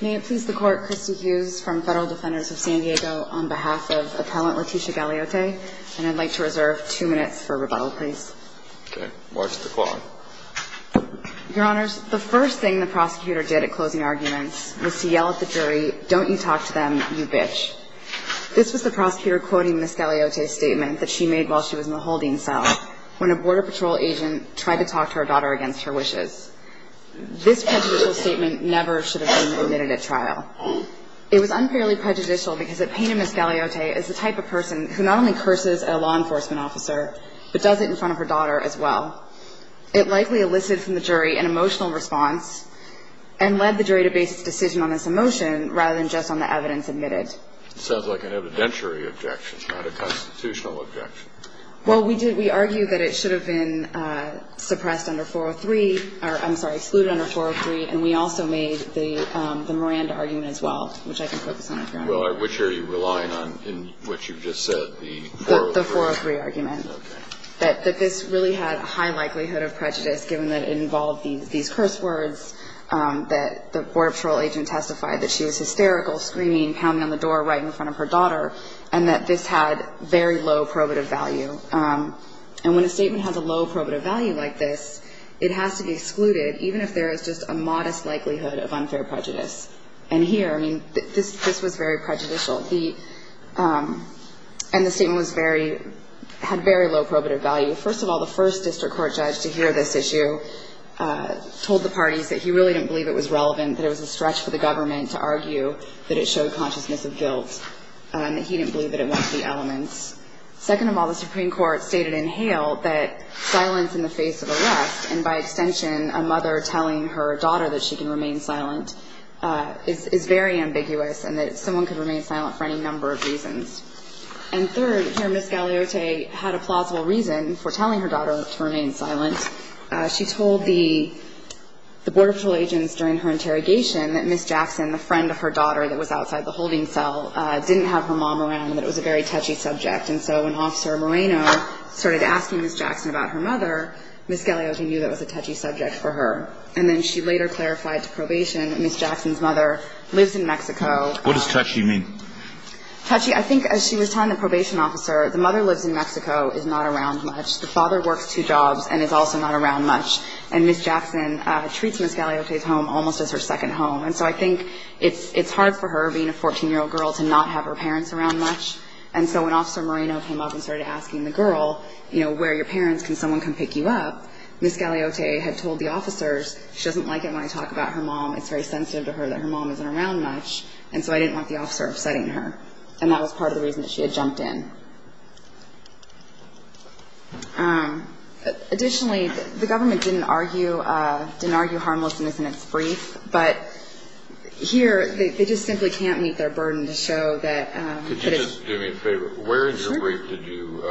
May it please the Court, Christy Hughes from Federal Defenders of San Diego, on behalf of Appellant Leticia Galeote, and I'd like to reserve two minutes for rebuttal, please. Okay. March the clock. Your Honors, the first thing the prosecutor did at closing arguments was to yell at the jury, don't you talk to them, you bitch. This was the prosecutor quoting Ms. Galeote's statement that she made while she was in the holding cell when a Border Patrol agent tried to talk to her daughter against her wishes. This prejudicial statement never should have been admitted at trial. It was unfairly prejudicial because it painted Ms. Galeote as the type of person who not only curses a law enforcement officer, but does it in front of her daughter as well. It likely elicited from the jury an emotional response and led the jury to base its decision on this emotion rather than just on the evidence admitted. It sounds like an evidentiary objection, not a constitutional objection. Well, we did, we argue that it should have been suppressed under 403, or I'm sorry, excluded under 403, and we also made the Miranda argument as well, which I can focus on if you want. Well, which are you relying on in what you've just said, the 403? The 403 argument. Okay. That this really had a high likelihood of prejudice given that it involved these curse words, that the Border Patrol agent testified that she was hysterical, screaming, pounding on the door right in front of her daughter, and that this had very low probative value. And when a statement has a low probative value like this, it has to be excluded, even if there is just a modest likelihood of unfair prejudice. And here, I mean, this was very prejudicial, and the statement was very, had very low probative value. First of all, the first district court judge to hear this issue told the parties that he really didn't believe it was relevant, that it was a stretch for the government to argue that it showed consciousness of guilt, that he didn't believe that it went to the elements. Second of all, the Supreme Court stated in Hale that silence in the face of arrest, and by extension, a mother telling her daughter that she can remain silent, is very ambiguous, and that someone could remain silent for any number of reasons. And third, here, Ms. Galeote had a plausible reason for telling her daughter to remain silent. She told the board of trial agents during her interrogation that Ms. Jackson, the friend of her daughter that was outside the holding cell, didn't have her mom around, and that it was a very touchy subject. And so when Officer Moreno started asking Ms. Jackson about her mother, Ms. Galeote knew that was a touchy subject for her. And then she later clarified to probation that Ms. Jackson's mother lives in Mexico. What does touchy mean? Touchy, I think, as she was telling the probation officer, the mother lives in Mexico, is not around much. Her father works two jobs and is also not around much. And Ms. Jackson treats Ms. Galeote's home almost as her second home. And so I think it's hard for her, being a 14-year-old girl, to not have her parents around much. And so when Officer Moreno came up and started asking the girl, you know, where are your parents? Can someone come pick you up? Ms. Galeote had told the officers she doesn't like it when I talk about her mom. It's very sensitive to her that her mom isn't around much. And so I didn't want the officer upsetting her. And that was part of the reason that she had jumped in. Additionally, the government didn't argue harmlessness in its brief, but here they just simply can't meet their burden to show that it's – Could you just do me a favor? Sure. Where in your brief did you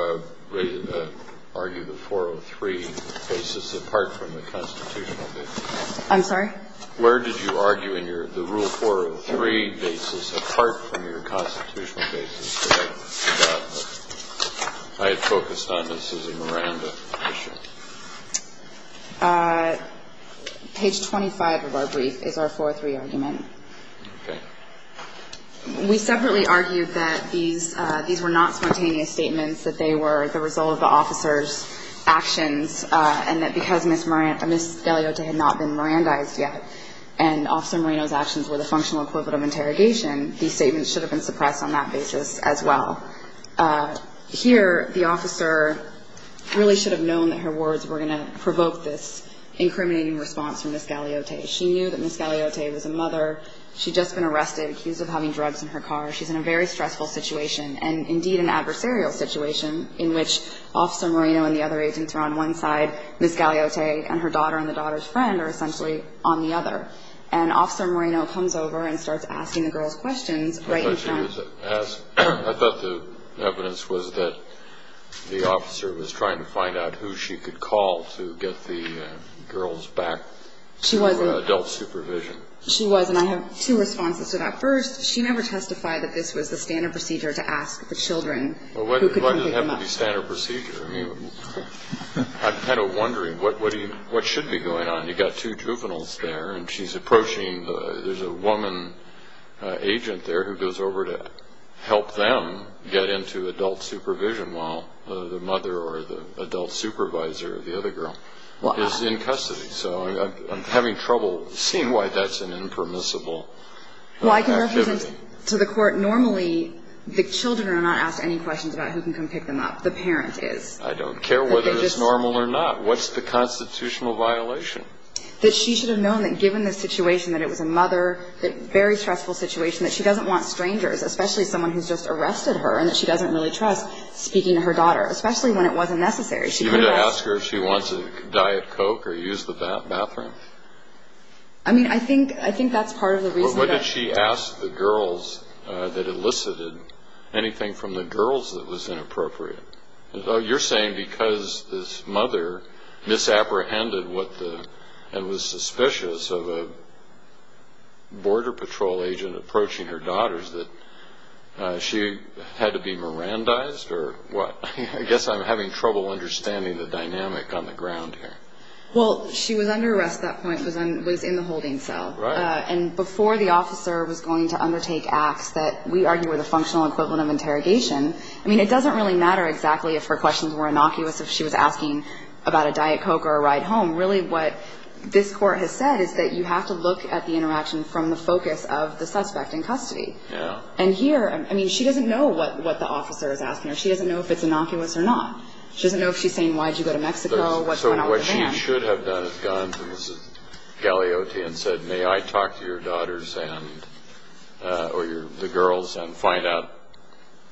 argue the 403 basis apart from the constitutional basis? I'm sorry? Where did you argue in your – the Rule 403 basis apart from your constitutional basis? I had focused on the Susie Miranda issue. Page 25 of our brief is our 403 argument. Okay. We separately argued that these were not spontaneous statements, that they were the result of the officers' actions, and that because Ms. Galeote had not been Mirandized yet and Officer Moreno's actions were the functional equivalent of interrogation, these statements should have been suppressed on that basis as well. Here, the officer really should have known that her words were going to provoke this incriminating response from Ms. Galeote. She knew that Ms. Galeote was a mother. She'd just been arrested, accused of having drugs in her car. She's in a very stressful situation, and indeed an adversarial situation, in which Officer Moreno and the other agents are on one side, Ms. Galeote and her daughter and the daughter's friend are essentially on the other. And Officer Moreno comes over and starts asking the girls questions right in front. I thought she was asking. I thought the evidence was that the officer was trying to find out who she could call to get the girls back to adult supervision. She was, and I have two responses to that. Well, why does it have to be standard procedure? I mean, I'm kind of wondering what should be going on. You've got two juveniles there, and she's approaching. There's a woman agent there who goes over to help them get into adult supervision while the mother or the adult supervisor of the other girl is in custody. So I'm having trouble seeing why that's an impermissible activity. Well, I can represent to the court normally the children are not asked any questions about who can come pick them up. The parent is. I don't care whether it's normal or not. What's the constitutional violation? That she should have known that given the situation, that it was a mother, a very stressful situation, that she doesn't want strangers, especially someone who's just arrested her, and that she doesn't really trust speaking to her daughter, especially when it wasn't necessary. She could have asked her if she wants a Diet Coke or used the bathroom. I mean, I think that's part of the reason. But what did she ask the girls that elicited anything from the girls that was inappropriate? You're saying because this mother misapprehended what the and was suspicious of a Border Patrol agent approaching her daughters that she had to be Mirandized or what? I guess I'm having trouble understanding the dynamic on the ground here. Well, she was under arrest at that point because I was in the holding cell. Right. And before the officer was going to undertake acts that we argue are the functional equivalent of interrogation. I mean, it doesn't really matter exactly if her questions were innocuous, if she was asking about a Diet Coke or a ride home. Really what this Court has said is that you have to look at the interaction from the focus of the suspect in custody. Yeah. And here, I mean, she doesn't know what the officer is asking her. She doesn't know if it's innocuous or not. She doesn't know if she's saying why did you go to Mexico, what's going on with the van. What she should have done is gone to Ms. Gagliotti and said, may I talk to your daughters or the girls and find out.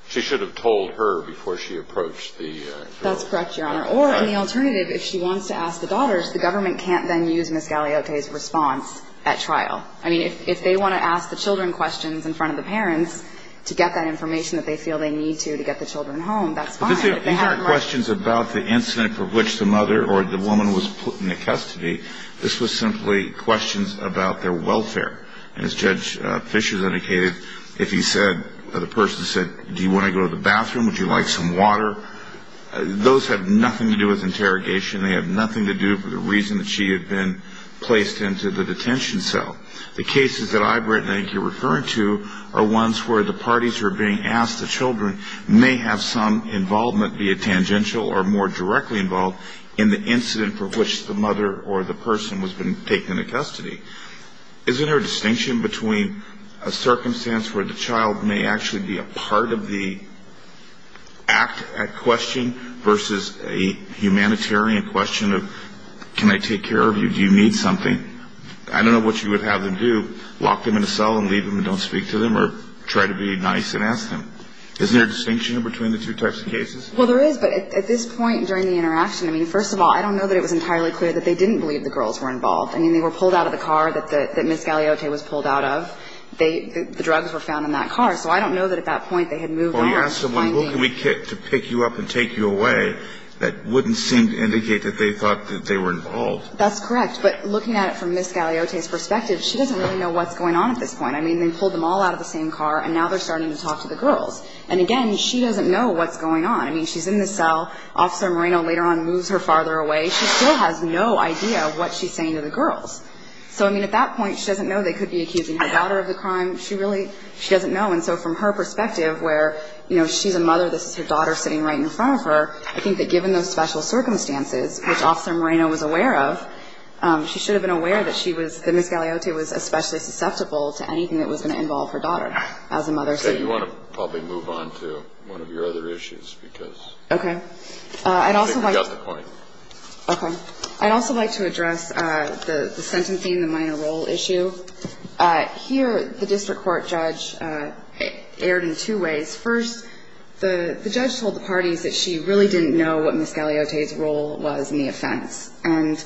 She should have told her before she approached the girls. That's correct, Your Honor. Or in the alternative, if she wants to ask the daughters, the government can't then use Ms. Gagliotti's response at trial. I mean, if they want to ask the children questions in front of the parents to get that information that they feel they need to to get the children home, that's fine. These aren't questions about the incident for which the mother or the woman was put into custody. This was simply questions about their welfare. And as Judge Fischer has indicated, if he said, the person said, do you want to go to the bathroom, would you like some water, those have nothing to do with interrogation. They have nothing to do with the reason that she had been placed into the detention cell. The cases that I, Brett, and I think you're referring to are ones where the parties who are being asked, the children, may have some involvement, be it tangential or more directly involved, in the incident for which the mother or the person was taken into custody. Isn't there a distinction between a circumstance where the child may actually be a part of the act at question versus a humanitarian question of can I take care of you, do you need something? I don't know what you would have them do, lock them in a cell and leave them and don't speak to them or try to be nice and ask them. Isn't there a distinction between the two types of cases? Well, there is. But at this point during the interaction, I mean, first of all, I don't know that it was entirely clear that they didn't believe the girls were involved. I mean, they were pulled out of the car that Ms. Galeote was pulled out of. The drugs were found in that car. So I don't know that at that point they had moved on. Well, you asked them, well, who can we pick you up and take you away, that wouldn't seem to indicate that they thought that they were involved. That's correct. But looking at it from Ms. Galeote's perspective, she doesn't really know what's going on at this point. I mean, they pulled them all out of the same car and now they're starting to talk to the girls. And, again, she doesn't know what's going on. I mean, she's in the cell. Officer Moreno later on moves her farther away. She still has no idea what she's saying to the girls. So, I mean, at that point she doesn't know they could be accusing her daughter of the crime. She really doesn't know. And so from her perspective where, you know, she's a mother, this is her daughter sitting right in front of her, I think that given those special circumstances, which Officer Moreno was aware of, she should have been aware that she was, that Ms. Galeote was especially susceptible to anything that was going to involve her daughter as a mother. Okay. You want to probably move on to one of your other issues because I think we got the point. Okay. I'd also like to address the sentence theme, the minor role issue. Here the district court judge erred in two ways. First, the judge told the parties that she really didn't know what Ms. Galeote's role was in the offense. And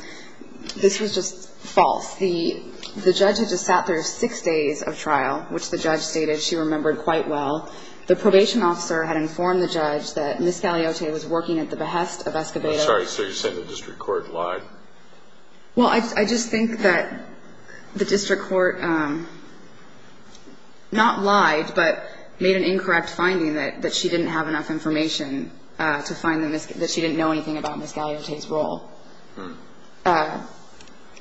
this was just false. The judge had just sat there six days of trial, which the judge stated she remembered quite well. The probation officer had informed the judge that Ms. Galeote was working at the behest of Escobedo. I'm sorry. So you're saying the district court lied? Well, I just think that the district court not lied, but made an incorrect finding that she didn't have enough information to find that she didn't know anything about Ms. Galeote's role.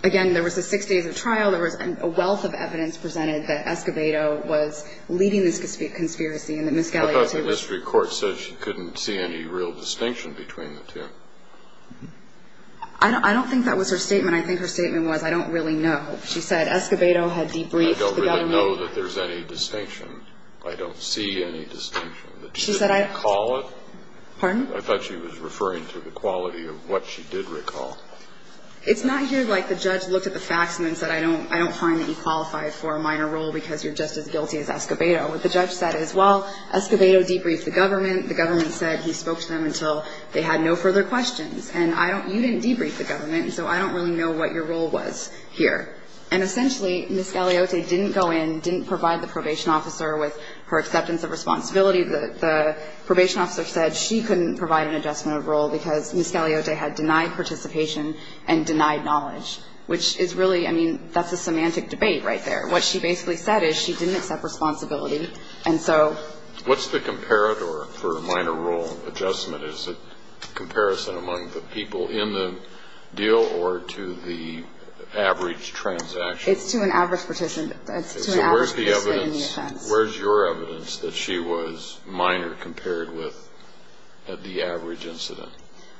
Again, there was the six days of trial. There was a wealth of evidence presented that Escobedo was leading this conspiracy and that Ms. Galeote was. I thought the district court said she couldn't see any real distinction between the two. I don't think that was her statement. I think her statement was, I don't really know. She said Escobedo had debriefed the government. I don't know that there's any distinction. I don't see any distinction. She said I didn't recall it. Pardon? I thought she was referring to the quality of what she did recall. It's not here like the judge looked at the facts and then said, I don't find that you qualify for a minor role because you're just as guilty as Escobedo. What the judge said is, well, Escobedo debriefed the government. The government said he spoke to them until they had no further questions. And you didn't debrief the government, so I don't really know what your role was here. And essentially, Ms. Galeote didn't go in, didn't provide the probation officer with her acceptance of responsibility. The probation officer said she couldn't provide an adjustment of role because Ms. Galeote had denied participation and denied knowledge, which is really, I mean, that's a semantic debate right there. What she basically said is she didn't accept responsibility, and so. What's the comparator for minor role adjustment? Is it comparison among the people in the deal or to the average transaction? It's to an average participant. So where's the evidence? Where's your evidence that she was minor compared with the average incident?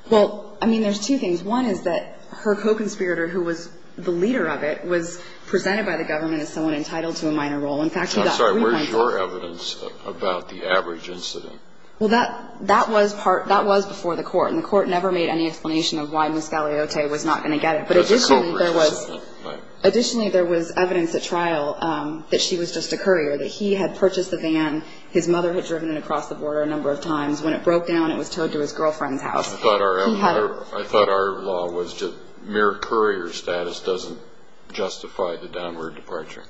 Well, I mean, there's two things. One is that her co-conspirator, who was the leader of it, was presented by the government as someone entitled to a minor role. I'm sorry. Where's your evidence about the average incident? Well, that was before the court, and the court never made any explanation of why Ms. Galeote was not going to get it. But additionally, there was evidence at trial that she was just a courier, that he had purchased the van, his mother had driven it across the border a number of times. When it broke down, it was towed to his girlfriend's house. I thought our law was just mere courier status doesn't justify the downward departure.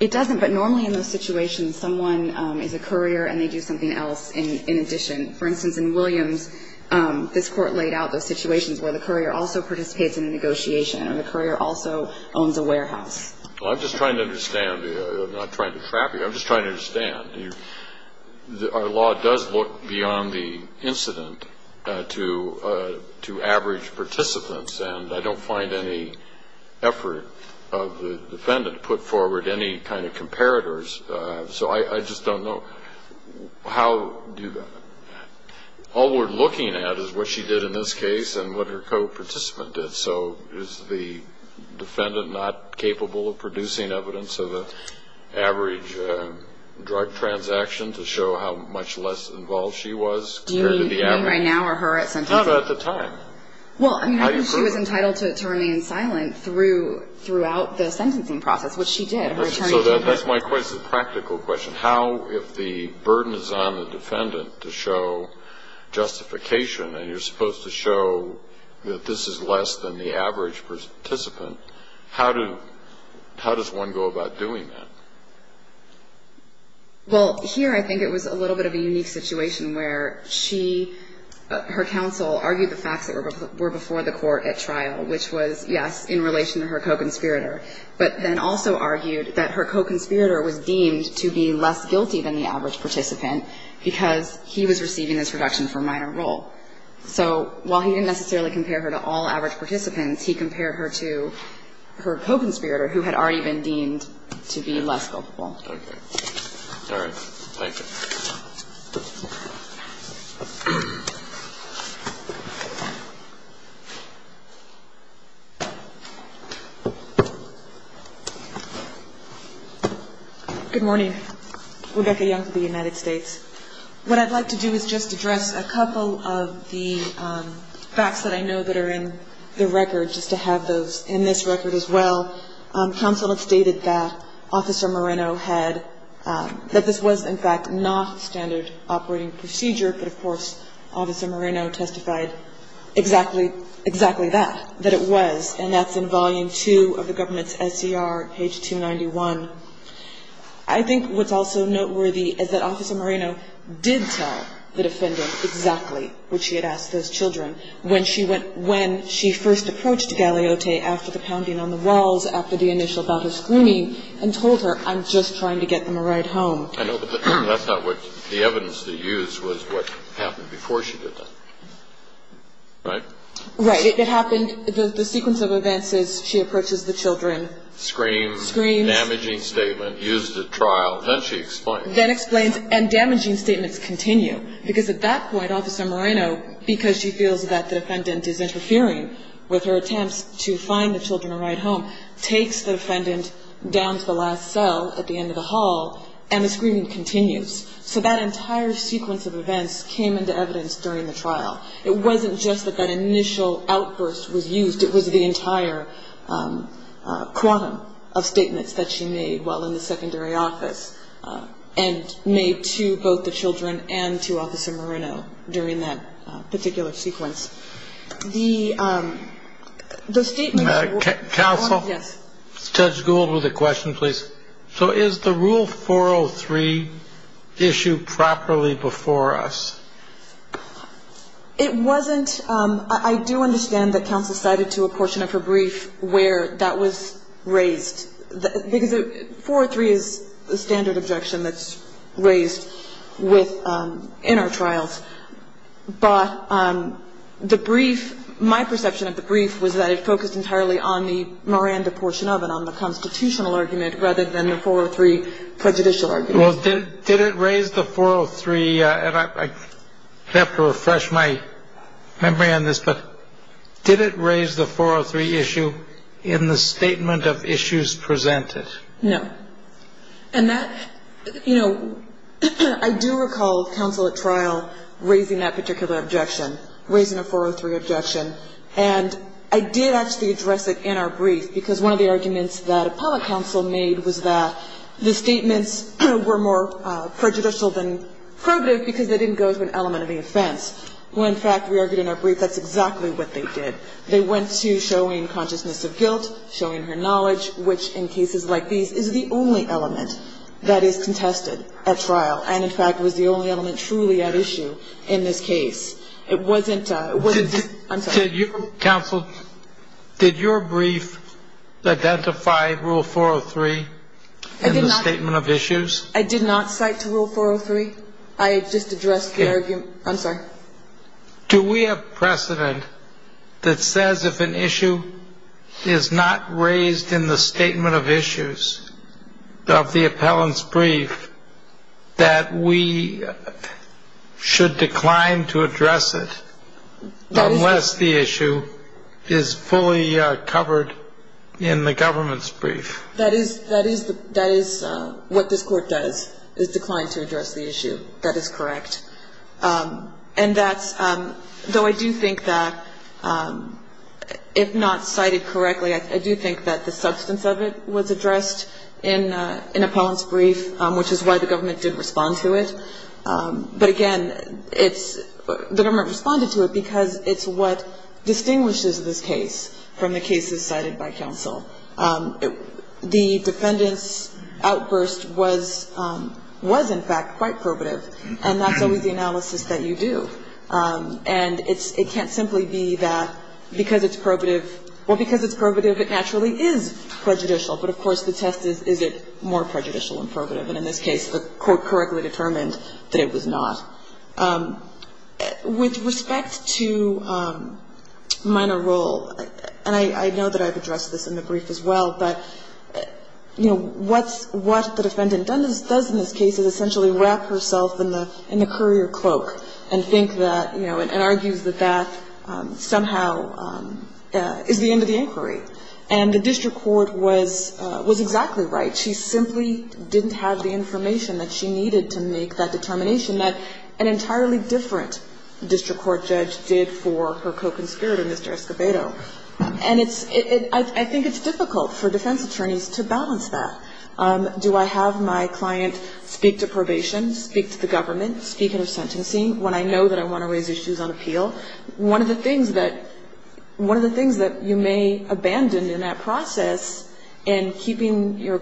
It doesn't. But normally in those situations, someone is a courier and they do something else in addition. For instance, in Williams, this court laid out those situations where the courier also participates in a negotiation and the courier also owns a warehouse. Well, I'm just trying to understand. I'm not trying to trap you. I'm just trying to understand. Our law does look beyond the incident to average participants, and I don't find any effort of the defendant to put forward any kind of comparators. So I just don't know. All we're looking at is what she did in this case and what her co-participant did. So is the defendant not capable of producing evidence of the average drug transaction to show how much less involved she was compared to the average? Do you mean right now or her at some time? Not at the time. Well, I mean, I think she was entitled to remain silent throughout the sentencing process, which she did. That's my practical question. How, if the burden is on the defendant to show justification and you're supposed to show that this is less than the average participant, how does one go about doing that? Well, here I think it was a little bit of a unique situation where she, her counsel, argued the facts that were before the court at trial, which was, yes, in relation to her co-conspirator, but then also argued that her co-conspirator was deemed to be less guilty than the average participant because he was receiving this reduction for minor role. So while he didn't necessarily compare her to all average participants, he compared her to her co-conspirator who had already been deemed to be less guilty. Okay. All right. Thank you. Thank you. Good morning. Rebecca Young for the United States. What I'd like to do is just address a couple of the facts that I know that are in the record, just to have those in this record as well. Counsel had stated that Officer Moreno had, that this was, in fact, not standard operating procedure, but, of course, Officer Moreno testified exactly that, that it was, and that's in Volume 2 of the government's SCR, page 291. I think what's also noteworthy is that Officer Moreno did tell the defendant exactly what she had asked those children. When she went, when she first approached Galeote after the pounding on the walls, after the initial bout of screaming, and told her, I'm just trying to get them a ride home. I know, but that's not what, the evidence that you used was what happened before she did that. Right? Right. It happened, the sequence of events is she approaches the children. Screams. Screams. Damaging statement. Used at trial. Then she explains. Then explains, and damaging statements continue. Because at that point, Officer Moreno, because she feels that the defendant is interfering with her attempts to find the children a ride home, takes the defendant down to the last cell at the end of the hall, and the screaming continues. So that entire sequence of events came into evidence during the trial. It wasn't just that that initial outburst was used. It was the entire quantum of statements that she made while in the secondary office, and made to both the children and to Officer Moreno during that particular sequence. Counsel? Yes. Judge Gould with a question, please. So is the Rule 403 issued properly before us? It wasn't. I do understand that counsel cited to a portion of her brief where that was raised. Because 403 is the standard objection that's raised in our trials. But the brief, my perception of the brief was that it focused entirely on the Miranda portion of it, on the constitutional argument, rather than the 403 prejudicial argument. Well, did it raise the 403, and I have to refresh my memory on this, but did it raise the 403 issue in the statement of issues presented? No. And that, you know, I do recall counsel at trial raising that particular objection, raising a 403 objection. And I did actually address it in our brief, because one of the arguments that a public counsel made was that the statements were more prejudicial than probative because they didn't go to an element of the offense. Well, in fact, we argued in our brief that's exactly what they did. They went to showing consciousness of guilt, showing her knowledge, which in cases like these is the only element that is contested at trial, and in fact was the only element truly at issue in this case. It wasn't the ‑‑ I'm sorry. Counsel, did your brief identify Rule 403 in the statement of issues? I did not cite to Rule 403. I just addressed the argument. I'm sorry. Do we have precedent that says if an issue is not raised in the statement of issues of the appellant's brief that we should decline to address it unless the issue is fully covered in the government's brief? That is what this Court does, is decline to address the issue. That is correct. And that's ‑‑ though I do think that if not cited correctly, I do think that the substance of it was addressed in an appellant's brief, which is why the government didn't respond to it. But again, it's ‑‑ the government responded to it because it's what distinguishes this case from the cases cited by counsel. The defendant's outburst was in fact quite probative, and that's always the analysis that you do. And it can't simply be that because it's probative, well, because it's probative, it naturally is prejudicial. But of course, the test is, is it more prejudicial than probative? And in this case, the Court correctly determined that it was not. With respect to minor role, and I know that I've addressed this in the brief as well, but, you know, what the defendant does in this case is essentially wrap herself in the courier cloak and think that, you know, and argues that that somehow is the end of the inquiry. And the district court was exactly right. She simply didn't have the information that she needed to make that determination that an entirely different district court judge did for her co‑conspirator, Mr. Escobedo. And it's ‑‑ I think it's difficult for defense attorneys to balance that. Do I have my client speak to probation, speak to the government, speak in a sentencing when I know that I want to raise issues on appeal? One of the things that you may abandon in that process in keeping your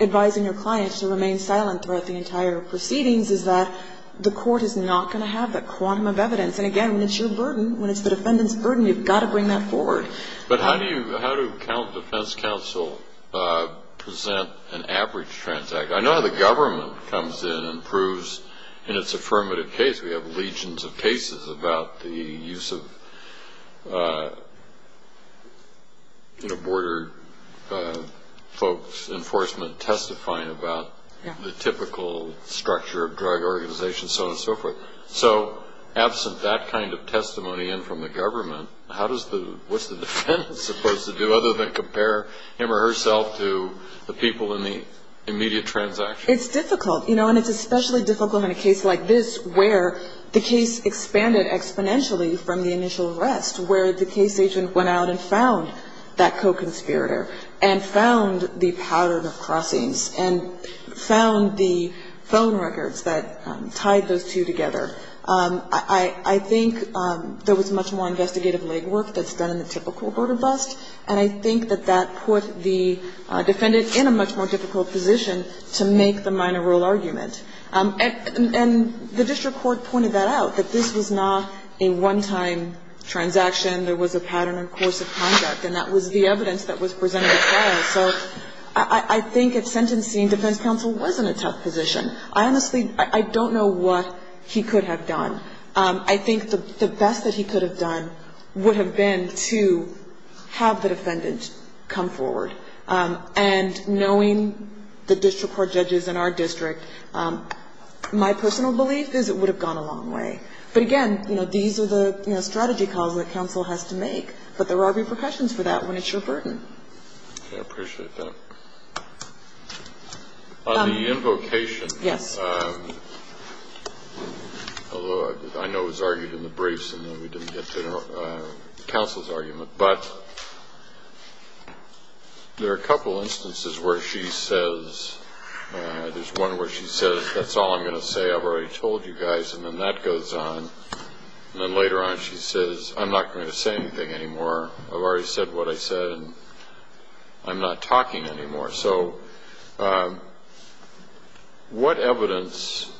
‑‑ to remain silent throughout the entire proceedings is that the court is not going to have that quantum of evidence. And, again, when it's your burden, when it's the defendant's burden, you've got to bring that forward. But how do you ‑‑ how do defense counsel present an average transact? I know how the government comes in and proves in its affirmative case. We have legions of cases about the use of, you know, border folks, enforcement testifying about the typical structure of drug organizations, so on and so forth. So absent that kind of testimony in from the government, how does the ‑‑ what's the defendant supposed to do other than compare him or herself to the people in the immediate transaction? It's difficult. You know, and it's especially difficult in a case like this where the case expanded exponentially from the initial arrest, where the case agent went out and found that co‑conspirator and found the pattern of crossings and found the phone records that tied those two together. I think there was much more investigative legwork that's done in the typical border bust, and I think that that put the defendant in a much more difficult position to make the minor rule argument. And the district court pointed that out, that this was not a one‑time transaction. There was a pattern and course of conduct, and that was the evidence that was presented at trial. So I think if sentencing, defense counsel was in a tough position. I honestly ‑‑ I don't know what he could have done. I think the best that he could have done would have been to have the defendant come forward. And knowing the district court judges in our district, my personal belief is it would have gone a long way. But, again, you know, these are the strategy calls that counsel has to make, but there are repercussions for that when it's your burden. Okay, I appreciate that. On the invocation, although I know it was argued in the briefs and then we didn't get to counsel's argument, but there are a couple instances where she says, there's one where she says, that's all I'm going to say, I've already told you guys, and then that goes on. And then later on she says, I'm not going to say anything anymore. I've already said what I said and I'm not talking anymore. So what evidence,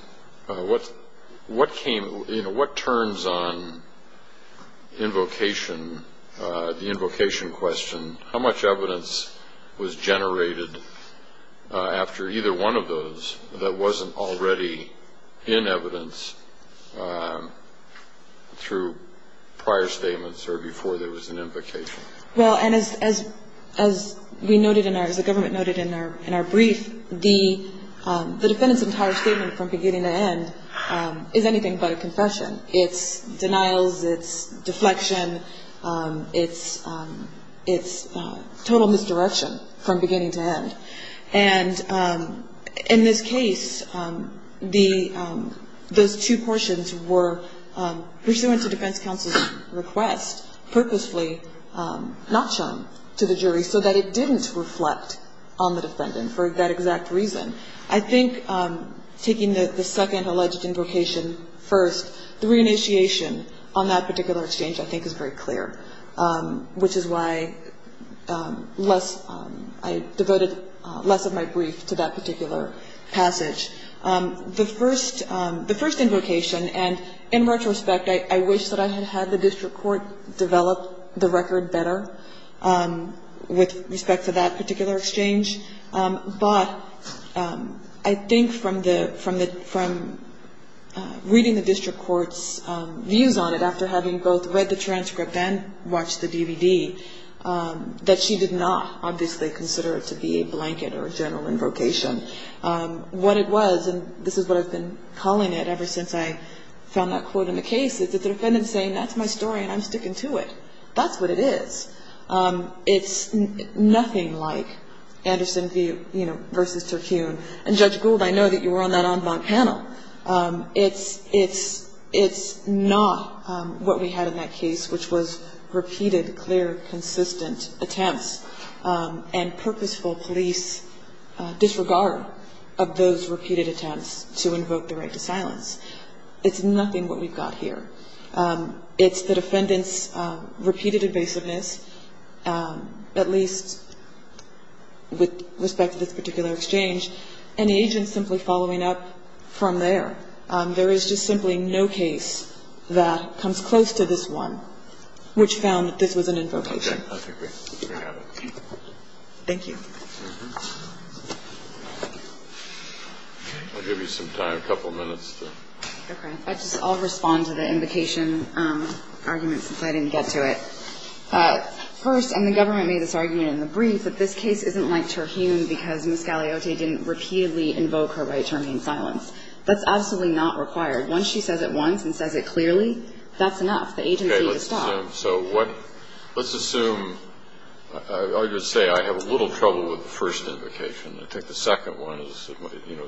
what came, you know, what turns on invocation, the invocation question, how much evidence was generated after either one of those that wasn't already in evidence through prior statements or before there was an invocation? Well, and as we noted in our, as the government noted in our brief, the defendant's entire statement from beginning to end is anything but a confession. It's denials, it's deflection, it's total misdirection from beginning to end. And in this case, the, those two portions were pursuant to defense counsel's request, purposefully not shown to the jury so that it didn't reflect on the defendant for that exact reason. I think taking the second alleged invocation first, the re-initiation on that particular exchange I think is very clear, which is why less, I devoted less of my brief to that particular passage. The first, the first invocation, and in retrospect, I wish that I had had the district court develop the record better with respect to that particular exchange. But I think from the, from reading the district court's views on it, after having both read the transcript and watched the DVD, that she did not obviously consider it to be a blanket or a general invocation. What it was, and this is what I've been calling it ever since I found that quote in the case, is that the defendant's saying, that's my story and I'm sticking to it. That's what it is. It's nothing like Anderson v. Turcune. And Judge Gould, I know that you were on that en banc panel. It's, it's, it's not what we had in that case, which was repeated, clear, consistent attempts and purposeful police disregard of those repeated attempts to invoke the right to silence. It's nothing what we've got here. It's the defendant's repeated evasiveness, at least with respect to this particular exchange, and the agent simply following up from there. There is just simply no case that comes close to this one, which found that this was an invocation. Thank you. I'll give you some time, a couple of minutes. Okay. I just, I'll respond to the invocation argument since I didn't get to it. First, and the government made this argument in the brief, that this case isn't like Turcune because Ms. Galeote didn't repeatedly invoke her right to remain in silence. That's absolutely not required. Once she says it once and says it clearly, that's enough. The agency is stopped. Okay. Let's assume, let's assume, I would say I have a little trouble with the first invocation. I think the second one is, you know,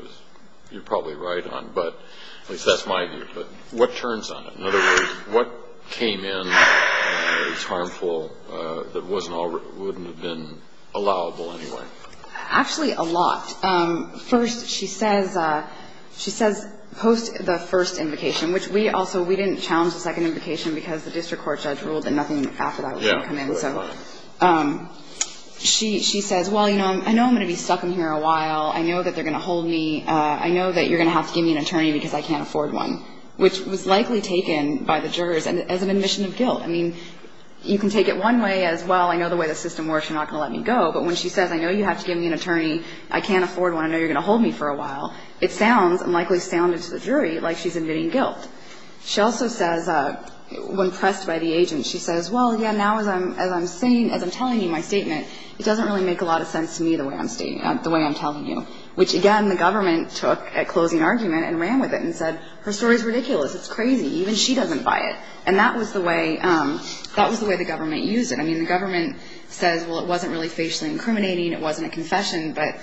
you're probably right on. But at least that's my view. But what turns on it? In other words, what came in that was harmful that wasn't, wouldn't have been allowable anyway? Actually, a lot. First, she says, she says post the first invocation, which we also, we didn't challenge the second invocation because the district court judge ruled that nothing after that would come in. So she says, well, you know, I know I'm going to be stuck in here a while. I know that they're going to hold me. I know that you're going to have to give me an attorney because I can't afford one, which was likely taken by the jurors as an admission of guilt. I mean, you can take it one way as, well, I know the way the system works. You're not going to let me go. But when she says, I know you have to give me an attorney. I can't afford one. I know you're going to hold me for a while. It sounds and likely sounded to the jury like she's admitting guilt. She also says, when pressed by the agent, she says, well, yeah, now as I'm saying, as I'm telling you my statement, it doesn't really make a lot of sense to me the way I'm telling you, which again the government took at closing argument and ran with it and said, her story is ridiculous. It's crazy. Even she doesn't buy it. And that was the way the government used it. I mean, the government says, well, it wasn't really facially incriminating. It wasn't a confession. But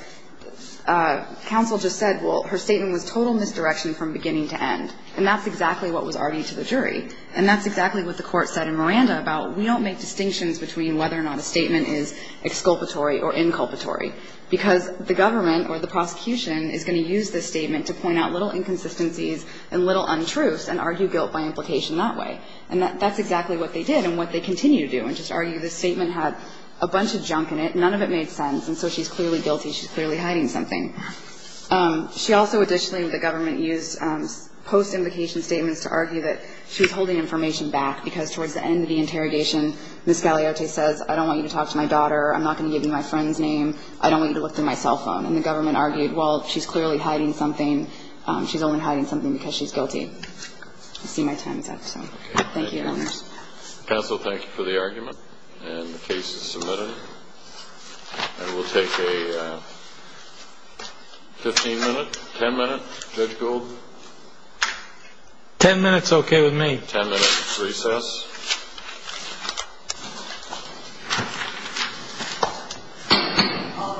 counsel just said, well, her statement was total misdirection from beginning to end. And that's exactly what was argued to the jury. And that's exactly what the court said in Miranda about we don't make distinctions between whether or not a statement is exculpatory or inculpatory. Because the government or the prosecution is going to use this statement to point out little inconsistencies and little untruths and argue guilt by implication that way. And that's exactly what they did and what they continue to do, and just argue the statement had a bunch of junk in it. None of it made sense. And so she's clearly guilty. She's clearly hiding something. She also additionally, the government used post-implication statements to argue that she's holding information back because towards the end of the interrogation, Ms. Galeote says, I don't want you to talk to my daughter. I'm not going to give you my friend's name. I don't want you to look through my cell phone. And the government argued, well, she's clearly hiding something. She's only hiding something because she's guilty. You'll see my time is up. So thank you, Your Honor. Counsel, thank you for the argument. And the case is submitted. And we'll take a 15 minute, 10 minute. Judge Golden. Ten minutes, okay with me. Ten minutes recess. All rise. This court stands in 10 minutes recess.